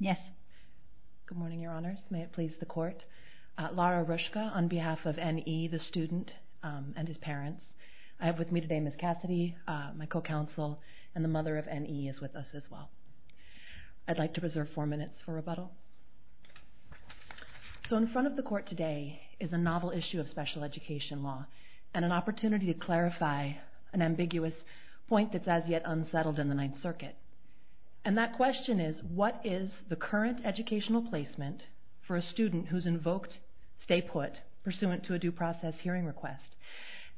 Yes. Good morning, your honors. May it please the court. Lara Rushka on behalf of N.E., the student, and his parents. I have with me today Ms. Cassidy, my co-counsel, and the mother of N.E. is with us as well. I'd like to preserve four minutes for rebuttal. So in front of the court today is a novel issue of special education law, and an opportunity to clarify an ambiguous point that's as yet unsettled in the Ninth Circuit. And that question is, what is the current educational placement for a student who's invoked stay put, pursuant to a due process hearing request,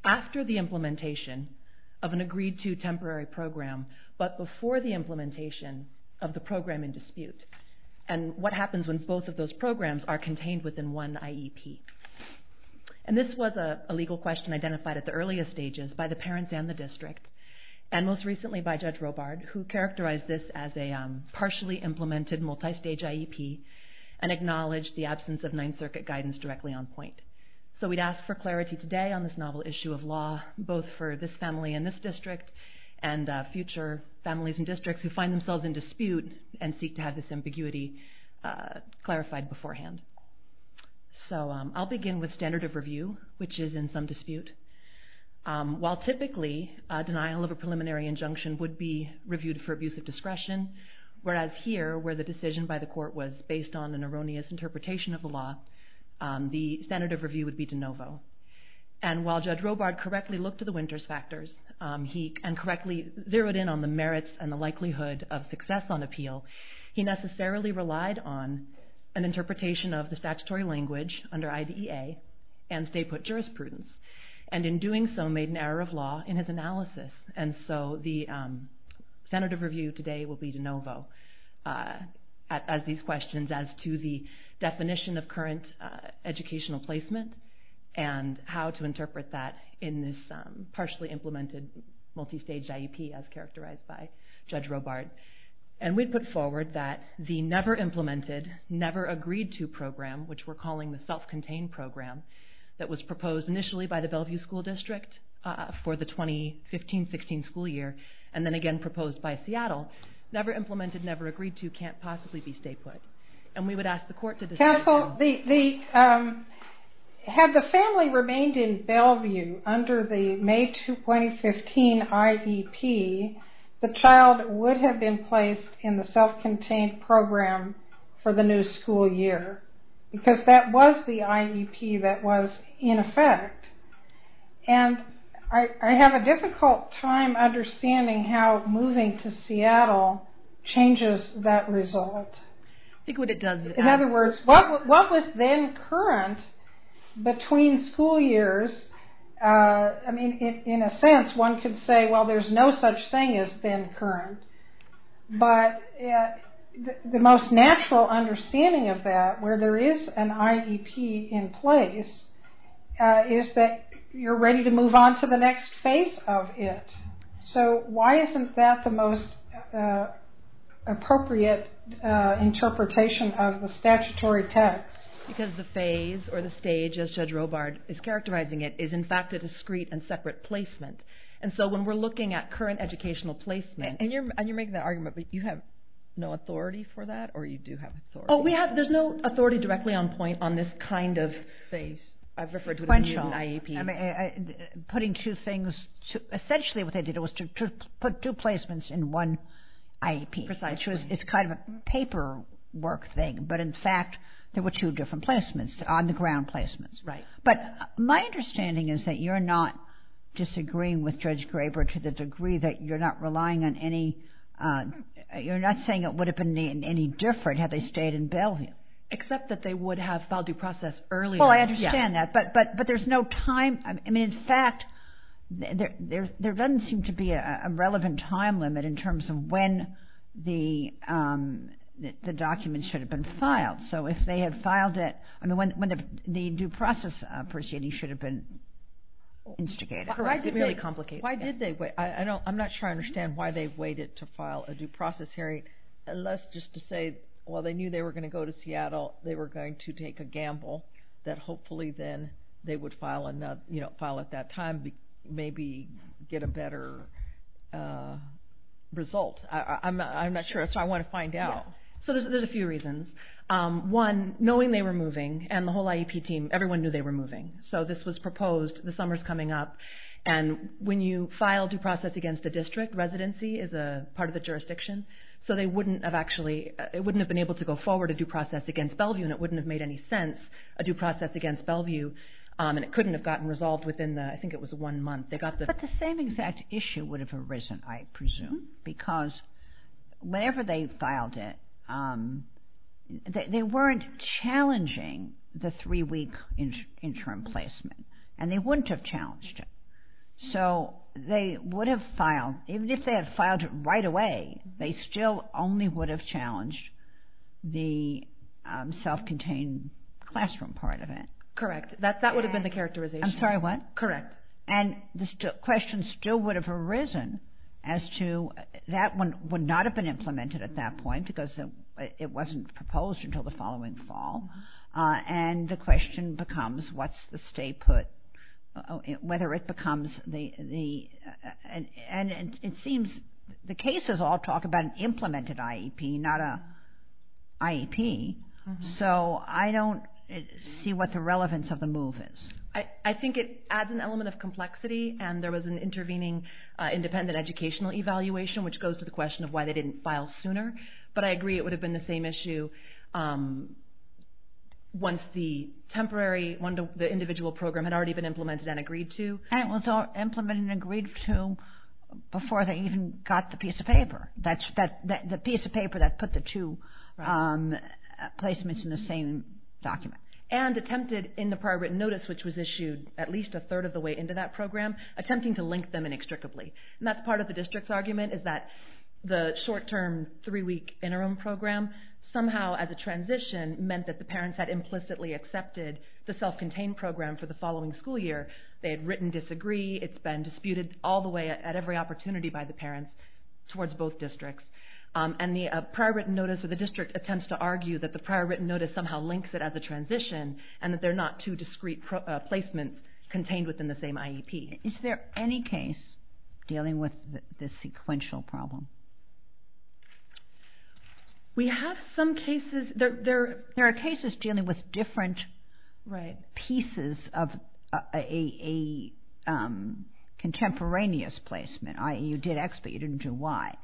after the implementation of an agreed to temporary program, but before the implementation of the program in dispute? And what happens when both of those programs are contained within one IEP? And this was a legal question identified at the earliest stages by the parents and the district, and most recently by Judge Robard, who characterized this as a partially implemented multistage IEP, and acknowledged the absence of Ninth Circuit guidance directly on point. So we'd ask for clarity today on this novel issue of law, both for this family and this district, and future families and districts who find themselves in dispute and seek to have this ambiguity clarified beforehand. So I'll begin with standard of review, which is in some dispute. While typically, a denial of a preliminary injunction would be reviewed for abuse of discretion, whereas here, where the decision by the court was based on an erroneous interpretation of the law, the standard of review would be de novo. And while Judge Robard correctly looked to the Winters factors, and correctly zeroed in on the merits and the likelihood of success on appeal, he necessarily relied on an interpretation of the statutory language under IDEA and stay put jurisprudence. And in doing so, made an error of law in his analysis. And so the standard of review today will be de novo as these questions as to the definition of current educational placement and how to interpret that in this partially implemented multistage IEP, as characterized by Judge Robard. And we put forward that the never implemented, never agreed to program, which we're calling the self-contained program, that was proposed initially by the Bellevue School District for the 2015-16 school year, and then again proposed by Seattle, never implemented, never agreed to, can't possibly be stay put. And we would ask the court to... Counsel, had the family remained in Bellevue under the May 2015 IEP, the child would have been placed in the self-contained program for the new school year. Because that was the IEP that was in effect. And I have a difficult time understanding how moving to Seattle changes that result. In other words, what was then current between school years, I mean, in a sense, one could say, well, there's no such thing as then current. But the most natural understanding of that, where there is an IEP in place, is that you're ready to move on to the next phase of it. So why isn't that the most appropriate interpretation of the statutory text? Because the phase or the stage, as Judge Robard is characterizing it, is in fact a discrete and separate placement. And so when we're looking at current educational placement... And you're making that argument, but you have no authority for that? Or you do have authority? Oh, there's no authority directly on point on this kind of phase. I've referred to it as a mutant IEP. Putting two things... Essentially what they did was to put two placements in one IEP. Precisely. Which is kind of a paperwork thing. But, in fact, there were two different placements, on-the-ground placements. Right. But my understanding is that you're not disagreeing with Judge Graber to the degree that you're not relying on any... You're not saying it would have been any different had they stayed in Bellevue. Except that they would have filed due process earlier. Well, I understand that. But there's no time... I mean, in fact, there doesn't seem to be a relevant time limit in terms of when the documents should have been filed. So if they had filed it... I mean, when the due process proceeding should have been instigated. Why did they wait? I'm not sure I understand why they waited to file a due process hearing. Unless just to say, well, they knew they were going to go to Seattle. They were going to take a gamble that hopefully then they would file at that time and maybe get a better result. I'm not sure. So I want to find out. So there's a few reasons. One, knowing they were moving, and the whole IEP team, everyone knew they were moving. So this was proposed. The summer's coming up. And when you file due process against a district, residency is a part of the jurisdiction. So they wouldn't have actually... It wouldn't have been able to go forward a due process against Bellevue, and it wouldn't have made any sense, a due process against Bellevue. And it couldn't have gotten resolved within the, I think it was one month. But the same exact issue would have arisen, I presume, because whenever they filed it, they weren't challenging the three-week interim placement, and they wouldn't have challenged it. So they would have filed, even if they had filed it right away, they still only would have challenged the self-contained classroom part of it. Correct. That would have been the characterization. I'm sorry, what? Correct. And the question still would have arisen as to, that one would not have been implemented at that point because it wasn't proposed until the following fall. And the question becomes, what's the stay put, whether it becomes the... And it seems the cases all talk about an implemented IEP, not an IEP. So I don't see what the relevance of the move is. I think it adds an element of complexity, and there was an intervening independent educational evaluation, which goes to the question of why they didn't file sooner. But I agree it would have been the same issue once the temporary, the individual program had already been implemented and agreed to. And it was implemented and agreed to before they even got the piece of paper. The piece of paper that put the two placements in the same document. And attempted in the prior written notice, which was issued at least a third of the way into that program, attempting to link them inextricably. And that's part of the district's argument, is that the short-term three-week interim program somehow, as a transition, meant that the parents had implicitly accepted the self-contained program for the following school year. They had written disagree. It's been disputed all the way at every opportunity by the parents towards both districts. And the prior written notice of the district attempts to argue that the prior written notice somehow links it as a transition, and that there are not two discrete placements contained within the same IEP. Is there any case dealing with the sequential problem? We have some cases. There are cases dealing with different pieces of a contemporaneous placement. You did X, but you didn't do Y.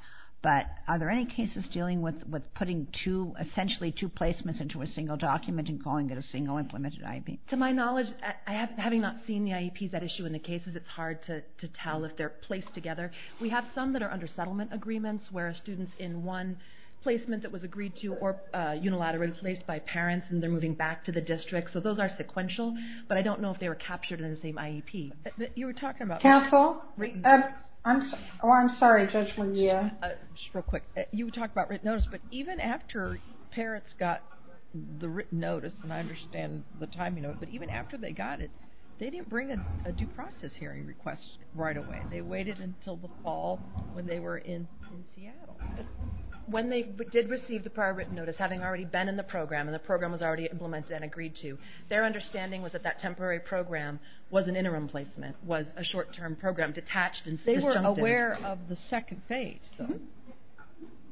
But are there any cases dealing with putting two, essentially two placements into a single document and calling it a single implemented IEP? To my knowledge, having not seen the IEPs at issue in the cases, it's hard to tell if they're placed together. We have some that are under settlement agreements, where students in one placement that was agreed to or unilaterally placed by parents, and they're moving back to the district. So those are sequential. But I don't know if they were captured in the same IEP. Counsel? I'm sorry, Judge Mejia. Just real quick. You talked about written notice, but even after parents got the written notice, and I understand the timing of it, but even after they got it, they didn't bring a due process hearing request right away. They waited until the fall when they were in Seattle. When they did receive the prior written notice, having already been in the program, and the program was already implemented and agreed to, their understanding was that that temporary program was an interim placement, was a short-term program detached and disjuncted. They were aware of the second phase, though.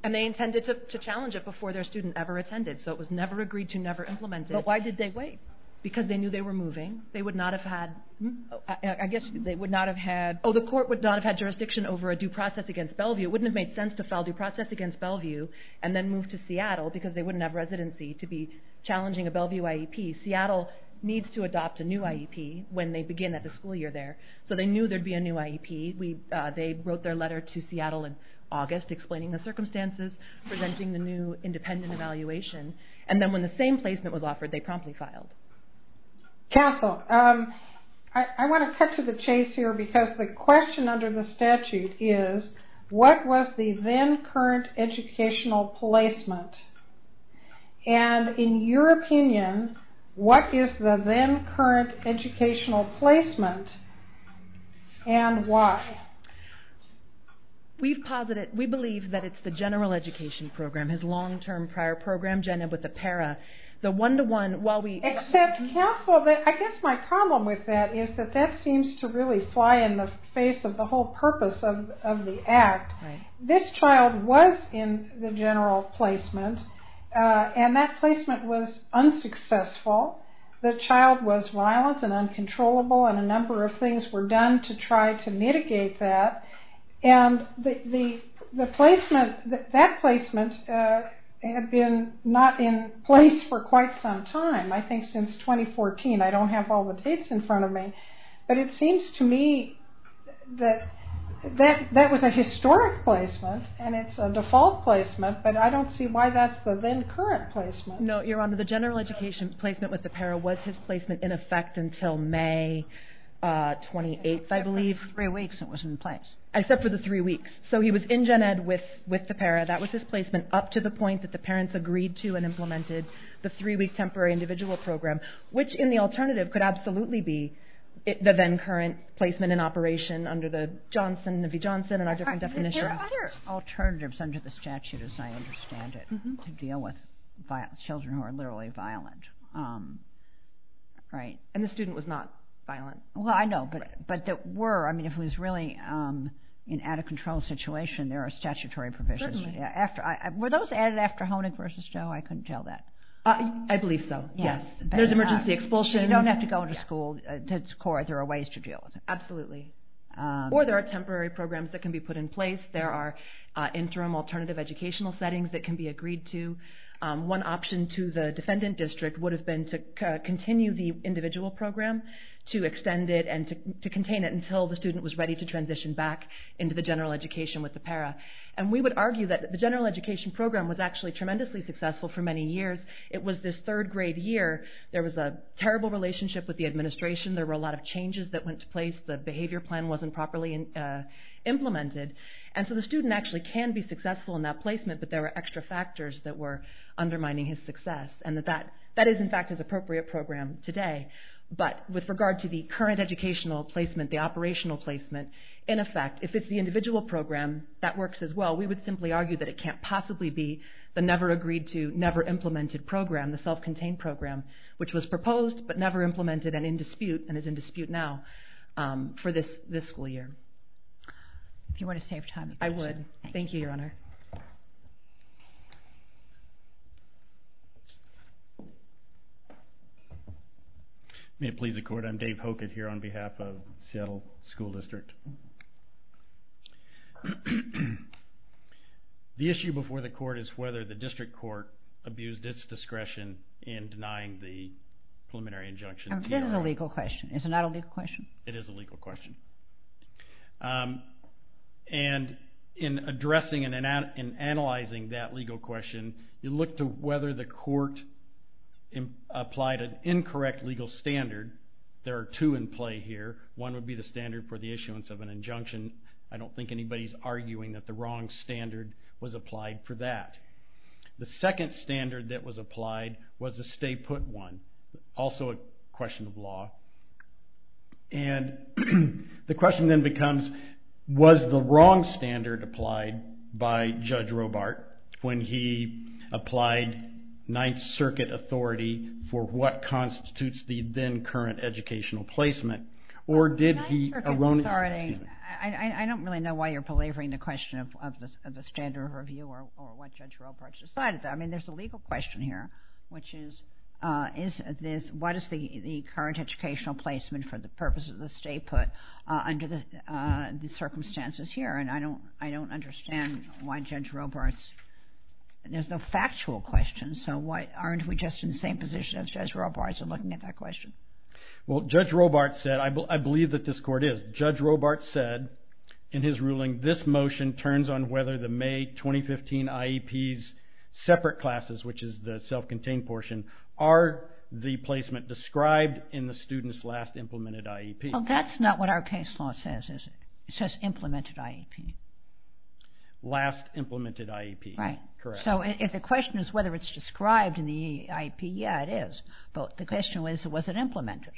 And they intended to challenge it before their student ever attended. So it was never agreed to, never implemented. But why did they wait? Because they knew they were moving. They would not have had... I guess they would not have had... Oh, the court would not have had jurisdiction over a due process against Bellevue. It wouldn't have made sense to file due process against Bellevue and then move to Seattle because they wouldn't have residency to be challenging a Bellevue IEP. Seattle needs to adopt a new IEP when they begin at the school year there. So they knew there would be a new IEP. They wrote their letter to Seattle in August explaining the circumstances, presenting the new independent evaluation. And then when the same placement was offered, they promptly filed. Castle, I want to cut to the chase here because the question under the statute is, what was the then current educational placement? And in your opinion, what is the then current educational placement and why? We believe that it's the general education program, his long-term prior program, Jenna, with the para. The one-to-one while we... Except Castle, I guess my problem with that is that that seems to really fly in the face of the whole purpose of the act. This child was in the general placement and that placement was unsuccessful. The child was violent and uncontrollable and a number of things were done to try to mitigate that. And that placement had been not in place for quite some time, I think since 2014. I don't have all the dates in front of me. But it seems to me that that was a historic placement and it's a default placement, but I don't see why that's the then current placement. No, Your Honor. The general education placement with the para was his placement in effect until May 28th, I believe. Except for the three weeks it was in place. Except for the three weeks. So he was in Gen Ed with the para. That was his placement up to the point that the parents agreed to and implemented the three-week temporary individual program, which in the alternative could absolutely be the then current placement in operation under the Johnson v. Johnson and our different definitions. There are other alternatives under the statute, as I understand it, to deal with children who are literally violent, right? And the student was not violent. Well, I know, but there were. I mean, if it was really an out-of-control situation, there are statutory provisions. Certainly. Were those added after Honig v. Joe? I couldn't tell that. I believe so, yes. There's emergency expulsion. So you don't have to go to school. There are ways to deal with it. Absolutely. Or there are temporary programs that can be put in place. There are interim alternative educational settings that can be agreed to. One option to the defendant district would have been to continue the individual program, to extend it and to contain it until the student was ready to transition back into the general education with the para. And we would argue that the general education program was actually tremendously successful for many years. It was this third-grade year. There was a terrible relationship with the administration. There were a lot of changes that went to place. The behavior plan wasn't properly implemented. And so the student actually can be successful in that placement, but there were extra factors that were undermining his success. And that is, in fact, his appropriate program today. But with regard to the current educational placement, the operational placement, in effect, if it's the individual program, that works as well. We would simply argue that it can't possibly be the never-agreed-to, never-implemented program, the self-contained program, which was proposed but never implemented and in dispute, and is in dispute now, for this school year. If you want to save time... I would. Thank you, Your Honor. May it please the Court, I'm Dave Hokett here on behalf of Seattle School District. The issue before the Court is whether the District Court abused its discretion in denying the preliminary injunction. It is a legal question. It's not a legal question. It is a legal question. And in addressing and analyzing that legal question, you look to whether the Court applied an incorrect legal standard. There are two in play here. One would be the standard for the issuance of an injunction. I don't think anybody's arguing that the wrong standard was applied for that. The second standard that was applied was the stay-put one. Also a question of law. And the question then becomes, was the wrong standard applied by Judge Robart when he applied Ninth Circuit authority for what constitutes the then-current educational placement, or did he erroneously... The Ninth Circuit authority, I don't really know why you're belaboring the question of the standard of review or what Judge Robart decided. I mean, there's a legal question here, which is, what is the current educational placement for the purpose of the stay-put under the circumstances here? And I don't understand why Judge Robart's... There's no factual question, so aren't we just in the same position as Judge Robart's in looking at that question? Well, Judge Robart said, I believe that this Court is, Judge Robart said in his ruling, this motion turns on whether the May 2015 IEPs separate classes, which is the self-contained portion, are the placement described in the student's last implemented IEP. Well, that's not what our case law says, is it? It says implemented IEP. Last implemented IEP. Right. Correct. So if the question is whether it's described in the IEP, yeah, it is. But the question was, was it implemented?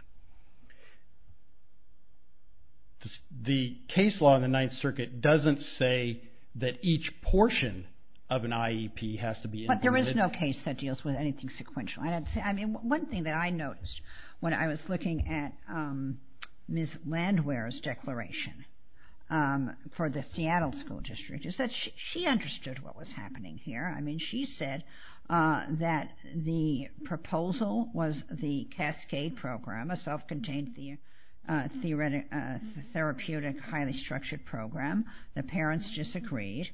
The case law in the Ninth Circuit doesn't say that each portion of an IEP has to be implemented. But there is no case that deals with anything sequential. I mean, one thing that I noticed when I was looking at Ms. Landwehr's declaration for the Seattle School District is that she understood what was happening here. I mean, she said that the proposal was the cascade program of self-contained therapeutic highly structured program. The parents disagreed.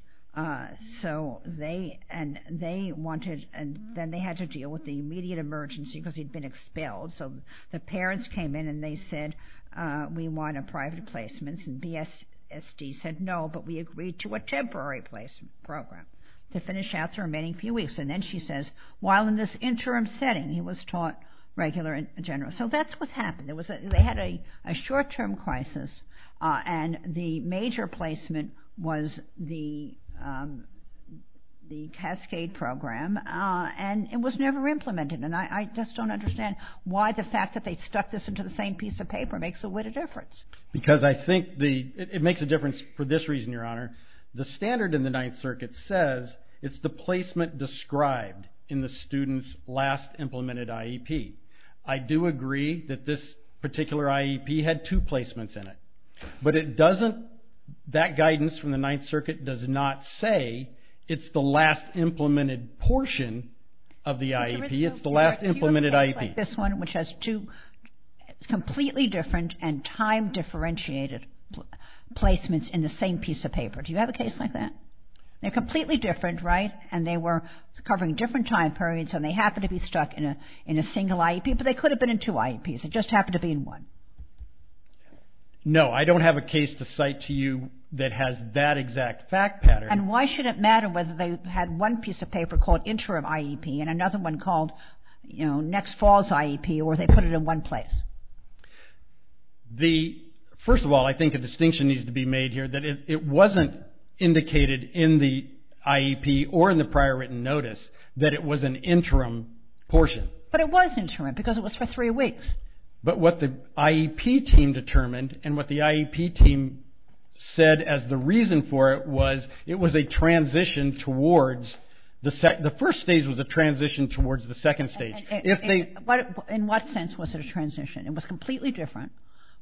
So they wanted, and then they had to deal with the immediate emergency because he'd been expelled. So the parents came in and they said, we want a private placement. And BSD said no, but we agreed to a temporary placement program to finish out the remaining few weeks. And then she says, while in this interim setting he was taught regular and general. So that's what happened. They had a short-term crisis and the major placement was the cascade program and it was never implemented. And I just don't understand why the fact that they stuck this into the same piece of paper makes a width of difference. Because I think it makes a difference for this reason, Your Honor. The standard in the Ninth Circuit says it's the placement described in the student's last implemented IEP. I do agree that this particular IEP had two placements in it. But it doesn't, that guidance from the Ninth Circuit does not say it's the last implemented portion of the IEP. It's the last implemented IEP. Which has two completely different and time differentiated placements in the same piece of paper. Do you have a case like that? They're completely different, right? And they were covering different time periods and they happen to be stuck in a single IEP. But they could have been in two IEPs. It just happened to be in one. No, I don't have a case to cite to you that has that exact fact pattern. And why should it matter whether they had one piece of paper called interim IEP and another one called next fall's IEP or they put it in one place? First of all, I think a distinction needs to be made here that it wasn't indicated in the IEP or in the prior written notice that it was an interim portion. But it was interim because it was for three weeks. But what the IEP team determined and what the IEP team said as the reason for it was it was a transition towards the first stage was a transition towards the second stage. In what sense was it a transition? It was completely different.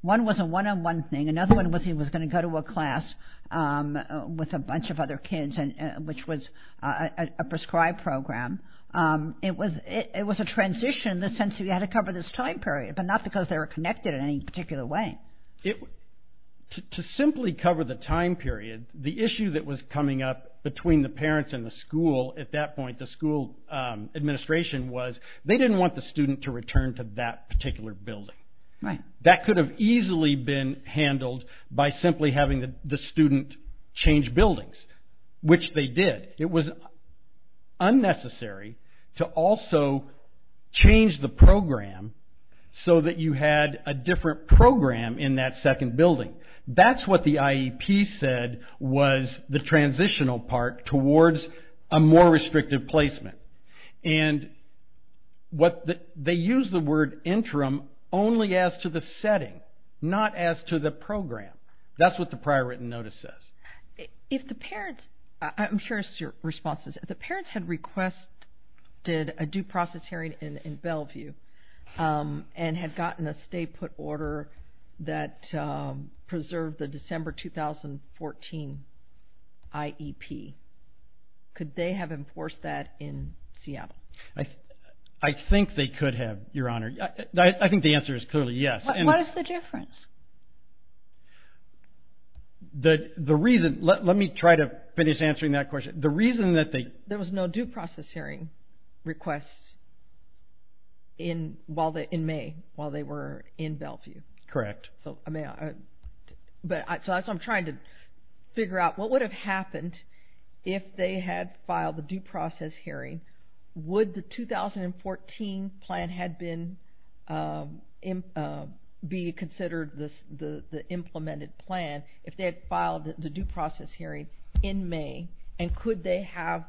One was a one-on-one thing. Another one was he was going to go to a class with a bunch of other kids which was a prescribed program. It was a transition in the sense you had to cover this time period but not because they were connected in any particular way. To simply cover the time period, the issue that was coming up between the parents and the school at that point, the school administration was they didn't want the student to return to that particular building. That could have easily been handled by simply having the student change buildings which they did. It was unnecessary to also change the program so that you had a different program in that second building. That's what the IEP said was the transitional part towards a more restrictive placement. And they used the word interim only as to the setting not as to the program. That's what the prior written notice says. I'm curious to your responses. If the parents had requested a due process hearing in Bellevue and had gotten a stay put order that preserved the December 2014 IEP, could they have enforced that in Seattle? I think they could have, Your Honor. I think the answer is clearly yes. What is the difference? The reason... Let me try to finish answering that question. The reason that they... There was no due process hearing request in May while they were in Bellevue. Correct. So that's what I'm trying to figure out. What would have happened if they had filed the due process hearing? Would the 2014 plan be considered the implemented plan if they had filed the due process hearing in May? And could they have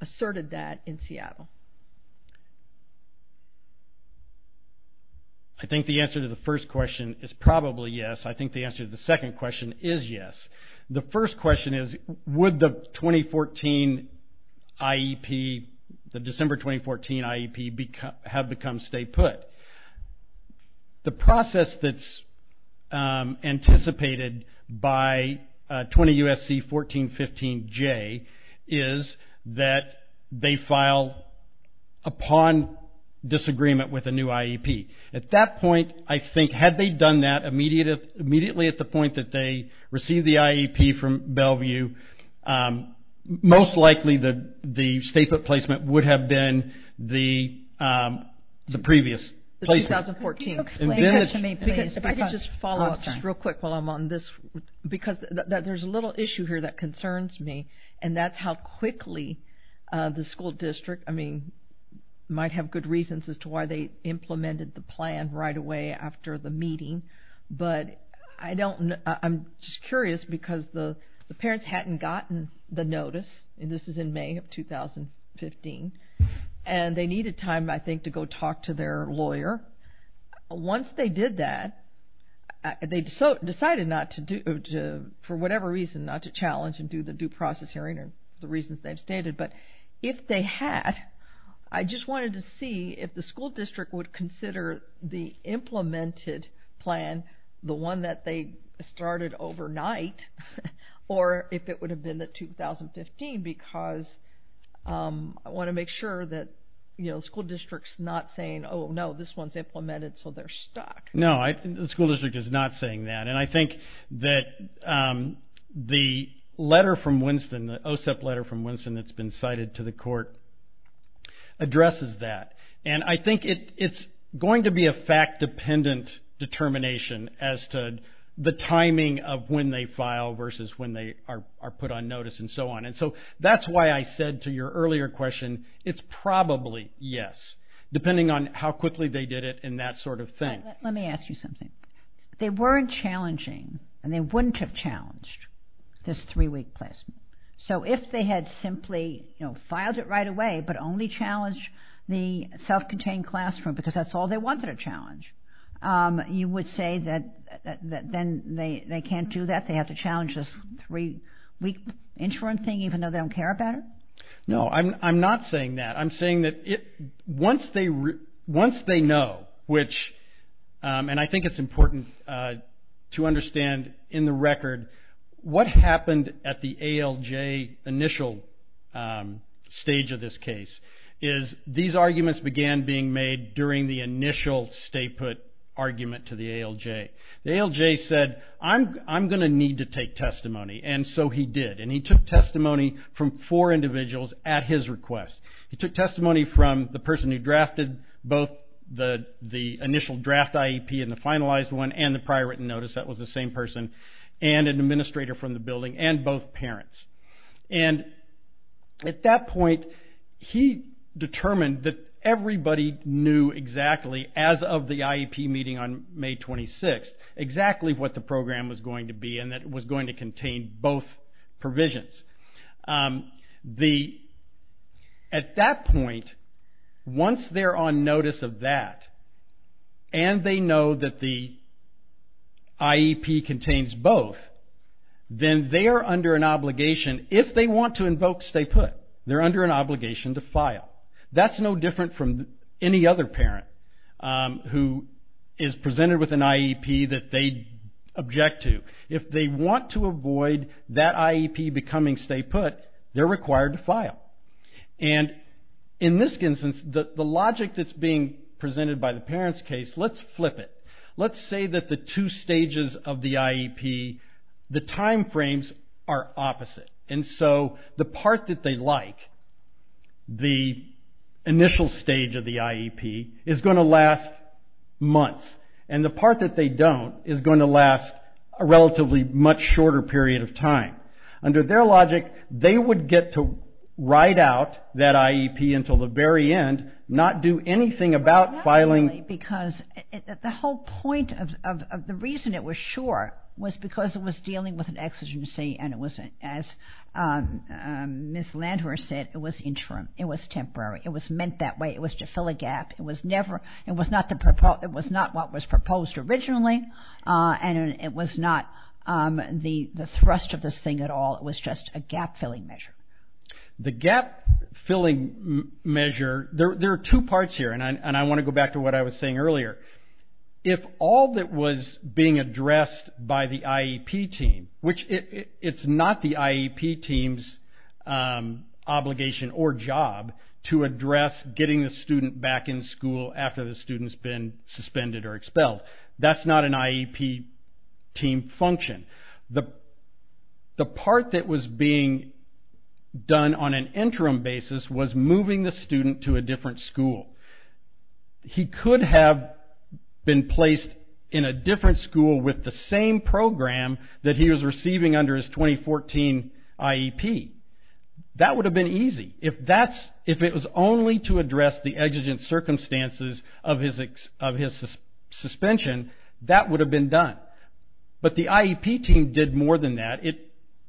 asserted that in Seattle? I think the answer to the first question is probably yes. I think the answer to the second question is yes. The first question is, would the December 2014 IEP have become stay put? The process that's anticipated by 20 U.S.C. 1415J is that they file upon disagreement with a new IEP. At that point, I think, had they done that immediately at the point that they received the IEP from Bellevue, most likely the stay put placement would have been the previous placement. Can you explain that to me, please? If I could just follow up real quick while I'm on this, because there's a little issue here that concerns me, and that's how quickly the school district, I mean, might have good reasons as to why they implemented the plan right away after the meeting, but I'm just curious because the parents hadn't gotten the notice, and this is in May of 2015, and they needed time, I think, to go talk to their lawyer. Once they did that, they decided for whatever reason not to challenge and do the due process hearing or the reasons they've stated, but if they had, I just wanted to see if the school district would consider the implemented plan, the one that they started overnight, or if it would have been the 2015, because I want to make sure that the school district's not saying, oh, no, this one's implemented, so they're stuck. No, the school district is not saying that, and I think that the letter from Winston, the OSEP letter from Winston that's been cited to the court, addresses that, and I think it's going to be a fact-dependent determination as to the timing of when they file versus when they are put on notice and so on, and so that's why I said to your earlier question, it's probably yes, depending on how quickly they did it and that sort of thing. Let me ask you something. They weren't challenging, and they wouldn't have challenged this three-week placement, so if they had simply filed it right away but only challenged the self-contained classroom because that's all they wanted to challenge, you would say that then they can't do that, they have to challenge this three-week insurance thing even though they don't care about it? No, I'm not saying that. I'm saying that once they know, which, and I think it's important to understand in the record, what happened at the ALJ initial stage of this case is these arguments began being made during the initial stay-put argument to the ALJ. The ALJ said, I'm going to need to take testimony, and so he did, and he took testimony from four individuals at his request. He took testimony from the person who drafted both the initial draft IEP and the finalized one and the prior written notice, that was the same person, and an administrator from the building and both parents, and at that point, he determined that everybody knew exactly, as of the IEP meeting on May 26th, exactly what the program was going to be and that it was going to contain both provisions. At that point, once they're on notice of that and they know that the IEP contains both, then they are under an obligation, if they want to invoke stay-put, they're under an obligation to file. That's no different from any other parent who is presented with an IEP that they object to. If they want to avoid that IEP becoming stay-put, they're required to file, and in this instance, the logic that's being presented by the parents' case, let's flip it. Let's say that the two stages of the IEP, the time frames are opposite, and so the part that they like, the initial stage of the IEP, is going to last months, and the part that they don't is going to last a relatively much shorter period of time. Under their logic, they would get to write out that IEP until the very end, not do anything about filing. Well, not really, because the whole point of the reason it was short was because it was dealing with an exigency and it was, as Ms. Landwehr said, it was interim. It was temporary. It was meant that way. It was to fill a gap. It was not what was proposed originally, and it was not the thrust of this thing at all. It was just a gap-filling measure. The gap-filling measure, there are two parts here, and I want to go back to what I was saying earlier. If all that was being addressed by the IEP team, which it's not the IEP team's obligation or job to address getting the student back in school after the student's been suspended or expelled. That's not an IEP team function. The part that was being done on an interim basis was moving the student to a different school. He could have been placed in a different school with the same program that he was receiving under his 2014 IEP. That would have been easy. If it was only to address the exigent circumstances of his suspension, that would have been done. But the IEP team did more than that. It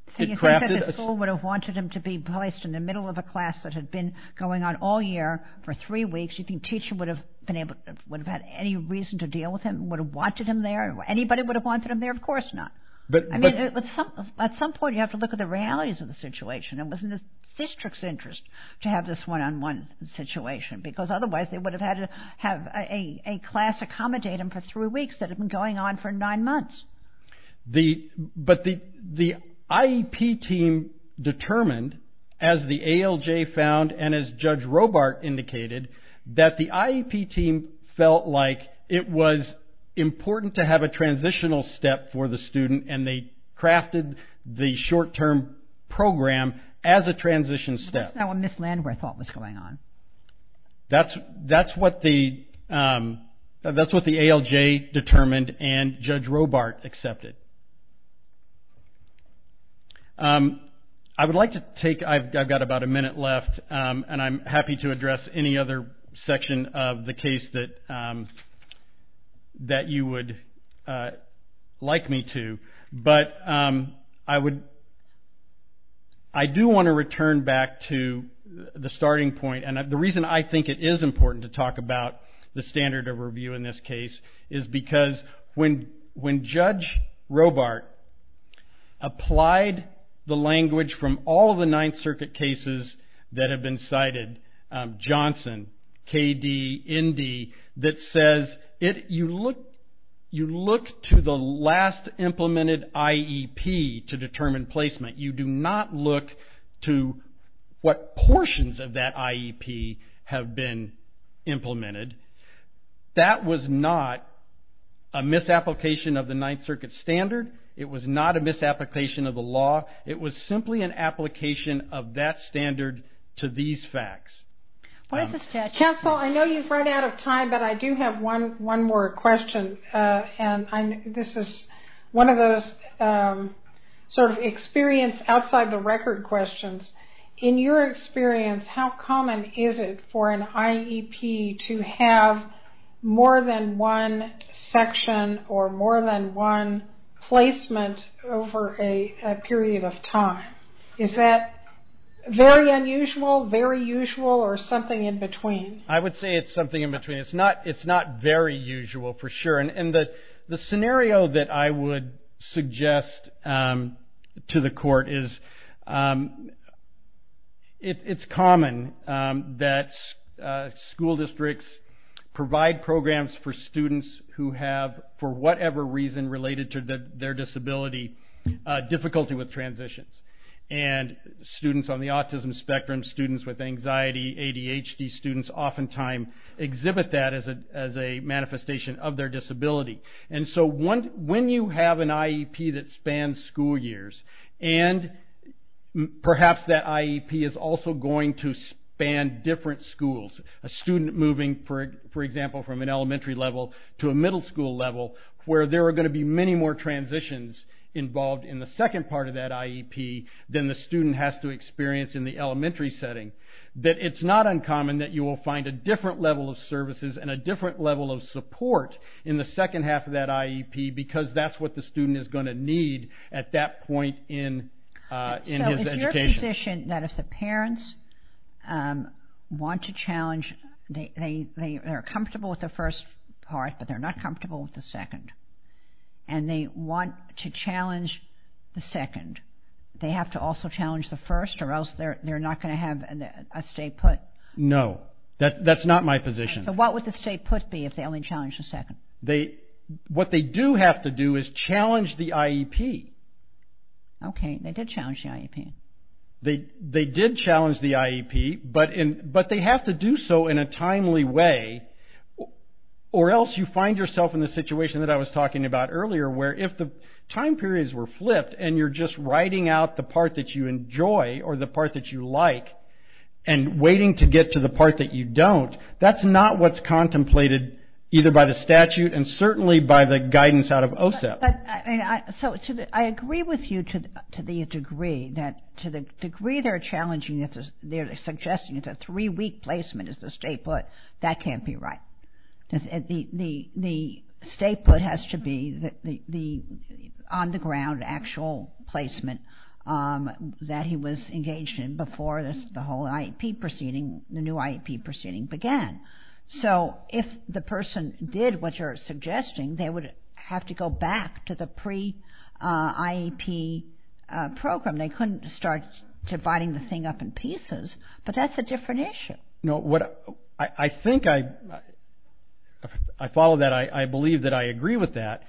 crafted a... So you think that the school would have wanted him to be placed in the middle of a class that had been going on all year for three weeks. You think the teacher would have had any reason to deal with him, would have wanted him there? Anybody would have wanted him there? Of course not. At some point you have to look at the realities of the situation. It was in the district's interest to have this one-on-one situation because otherwise they would have had to have a class accommodate him for three weeks that had been going on for nine months. But the IEP team determined, as the ALJ found and as Judge Robart indicated, that the IEP team felt like it was important to have a transitional step for the student and they crafted the short-term program as a transition step. That's not what Ms. Landwehr thought was going on. That's what the ALJ determined and Judge Robart accepted. I would like to take... I've got about a minute left and I'm happy to address any other section of the case that you would like me to. But I do want to return back to the starting point and the reason I think it is important to talk about the standard of review in this case is because when Judge Robart applied the language from all of the Ninth Circuit cases that have been cited, Johnson, KD, ND, that says you look to the last implemented IEP to determine placement. You do not look to what portions of that IEP have been implemented. That was not a misapplication of the Ninth Circuit standard. It was not a misapplication of the law. It was simply an application of that standard to these facts. Counsel, I know you've run out of time, but I do have one more question. This is one of those sort of experience outside the record questions. In your experience, how common is it for an IEP to have more than one section or more than one placement over a period of time? Is that very unusual, very usual, or something in between? I would say it's something in between. It's not very usual for sure. And the scenario that I would suggest to the court is it's common that school districts provide programs for students who have, for whatever reason related to their disability, difficulty with transitions. And students on the autism spectrum, students with anxiety, ADHD, students oftentimes exhibit that as a manifestation of their disability. And so when you have an IEP that spans school years, and perhaps that IEP is also going to span different schools, a student moving, for example, from an elementary level to a middle school level where there are going to be many more transitions involved in the second part of that IEP than the student has to experience in the elementary setting, that it's not uncommon that you will find a different level of services and a different level of support in the second half of that IEP because that's what the student is going to need at that point in his education. So is your position that if the parents want to challenge, they are comfortable with the first part, but they're not comfortable with the second, and they want to challenge the second, they have to also challenge the first or else they're not going to have a stay put? No, that's not my position. So what would the stay put be if they only challenged the second? What they do have to do is challenge the IEP. Okay, they did challenge the IEP. They did challenge the IEP, but they have to do so in a timely way or else you find yourself in the situation that I was talking about earlier where if the time periods were flipped and you're just writing out the part that you enjoy or the part that you like and waiting to get to the part that you don't, that's not what's contemplated either by the statute and certainly by the guidance out of OSEP. So I agree with you to the degree that to the degree they're challenging, they're suggesting it's a three-week placement is the stay put. That can't be right. The stay put has to be the on-the-ground actual placement that he was engaged in before the whole IEP proceeding, the new IEP proceeding began. So if the person did what you're suggesting, they would have to go back to the pre-IEP program. They couldn't start dividing the thing up in pieces, but that's a different issue. No, I think I follow that. I believe that I agree with that.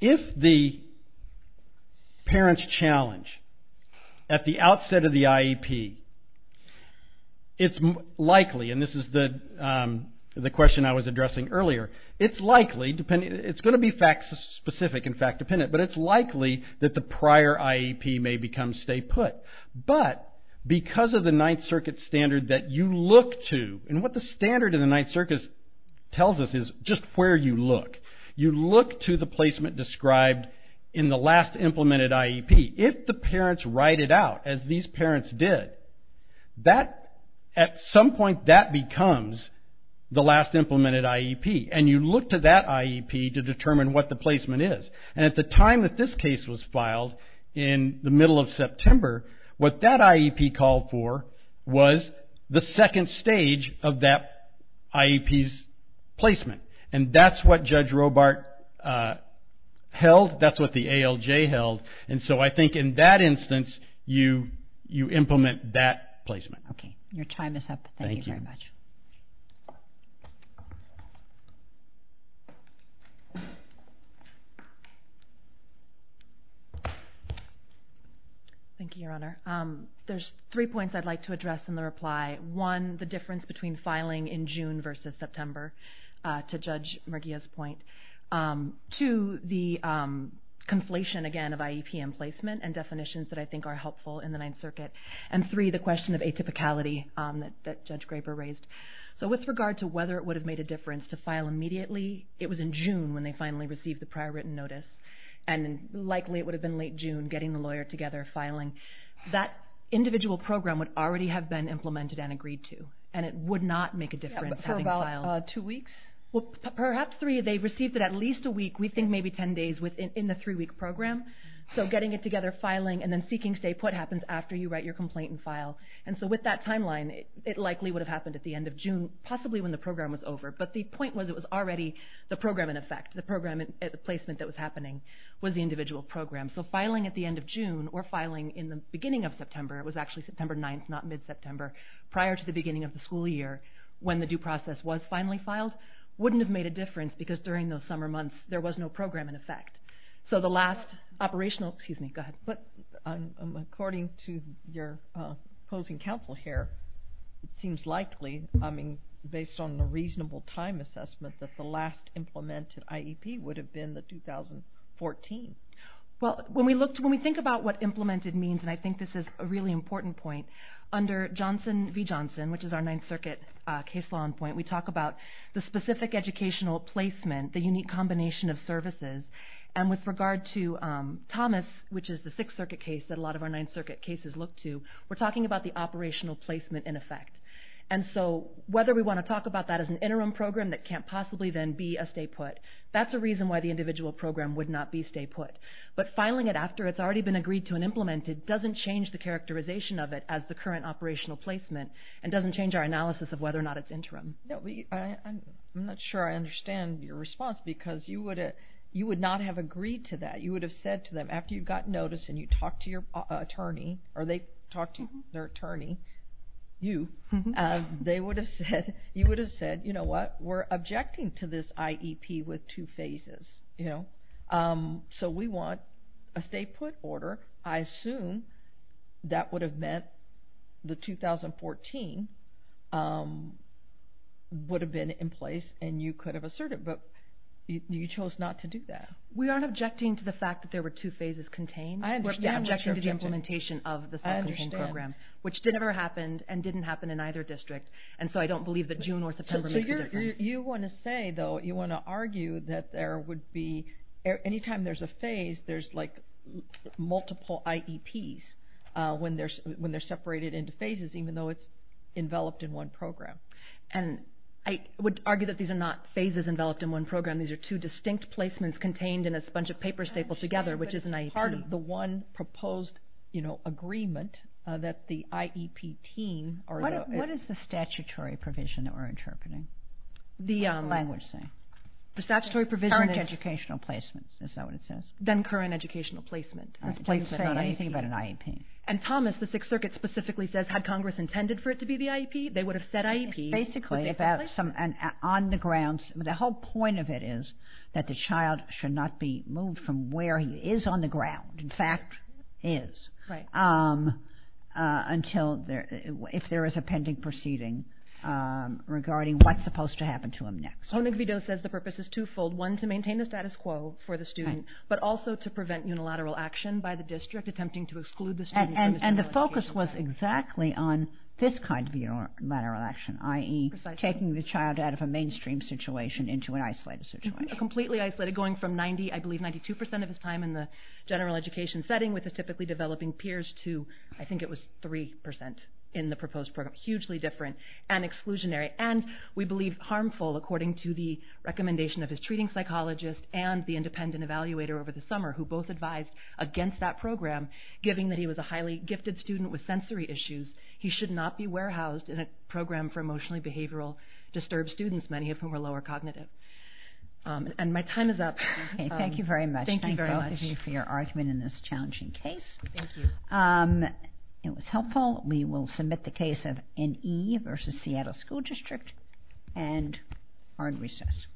If the parents challenge at the outset of the IEP, it's likely, and this is the question I was addressing earlier, it's going to be fact-specific and fact-dependent, but it's likely that the prior IEP may become stay put. But because of the Ninth Circuit standard that you look to, and what the standard in the Ninth Circuit tells us is just where you look. You look to the placement described in the last implemented IEP. If the parents write it out as these parents did, at some point that becomes the last implemented IEP. And you look to that IEP to determine what the placement is. And at the time that this case was filed, in the middle of September, what that IEP called for was the second stage of that IEP's placement. And that's what Judge Robart held, that's what the ALJ held. And so I think in that instance, you implement that placement. Okay. Your time is up. Thank you very much. Thank you, Your Honor. There's three points I'd like to address in the reply. One, the difference between filing in June versus September, to Judge Murguia's point. Two, the conflation, again, of IEP and placement, and definitions that I think are helpful in the Ninth Circuit. And three, the question of atypicality that Judge Graper raised. So with regard to whether it would have made a difference to file immediately, it was in June when they finally received the prior written notice. And likely it would have been late June, getting the lawyer together, filing. That individual program would already have been implemented and agreed to. And it would not make a difference having filed. Yeah, but for about two weeks? Well, perhaps three. They received it at least a week. We think maybe ten days in the three-week program. So getting it together, filing, and then seeking stay put happens after you write your complaint and file. And so with that timeline, it likely would have happened at the end of June, possibly when the program was over. But the point was it was already the program in effect. The program placement that was happening was the individual program. So filing at the end of June or filing in the beginning of September, it was actually September 9th, not mid-September, prior to the beginning of the school year, when the due process was finally filed, wouldn't have made a difference because during those summer months there was no program in effect. So the last operational, excuse me, go ahead. According to your opposing counsel here, it seems likely, based on a reasonable time assessment, that the last implemented IEP would have been the 2014. Well, when we think about what implemented means, and I think this is a really important point, under Johnson v. Johnson, which is our Ninth Circuit case law in point, we talk about the specific educational placement, the unique combination of services. And with regard to Thomas, which is the Sixth Circuit case that a lot of our Ninth Circuit cases look to, we're talking about the operational placement in effect. And so whether we want to talk about that as an interim program that can't possibly then be a stay put, that's a reason why the individual program would not be stay put. But filing it after it's already been agreed to and implemented doesn't change the characterization of it as the current operational placement and doesn't change our analysis of whether or not it's interim. I'm not sure I understand your response because you would not have agreed to that. You would have said to them after you got notice and you talked to your attorney, or they talked to their attorney, you, you would have said, you know what, we're objecting to this IEP with two phases. So we want a stay put order. I assume that would have meant the 2014 would have been in place and you could have asserted, but you chose not to do that. We aren't objecting to the fact that there were two phases contained. I understand. We're objecting to the implementation of the Second Home Program. I understand. Which never happened and didn't happen in either district. And so I don't believe that June or September makes a difference. You want to say, though, you want to argue that there would be, any time there's a phase, there's like multiple IEPs when they're separated into phases, even though it's enveloped in one program. And I would argue that these are not phases enveloped in one program. These are two distinct placements contained in a bunch of papers stapled together, which is an IEP. But part of the one proposed agreement that the IEP team or the… What is the statutory provision that we're interpreting? The language thing. The statutory provision is… Current educational placement, is that what it says? Then current educational placement. It doesn't say anything about an IEP. And, Thomas, the Sixth Circuit specifically says, had Congress intended for it to be the IEP, they would have said IEP. Basically, on the grounds, the whole point of it is that the child should not be moved from where he is on the ground, in fact, is, if there is a pending proceeding regarding what's supposed to happen to him next. Honig-Videau says the purpose is twofold. One, to maintain the status quo for the student, but also to prevent unilateral action by the district, attempting to exclude the student… And the focus was exactly on this kind of unilateral action, i.e. taking the child out of a mainstream situation into an isolated situation. Completely isolated, going from, I believe, 92% of his time in the general education setting with his typically developing peers to, I think it was 3% in the proposed program. Hugely different and exclusionary. And we believe harmful, according to the recommendation of his treating psychologist and the independent evaluator over the summer, who both advised against that program, given that he was a highly gifted student with sensory issues, he should not be warehoused in a program for emotionally behavioral disturbed students, many of whom are lower cognitive. And my time is up. Thank you very much. Thank you for your argument in this challenging case. Thank you. It was helpful. We will submit the case of N.E. v. Seattle School District and are in recess.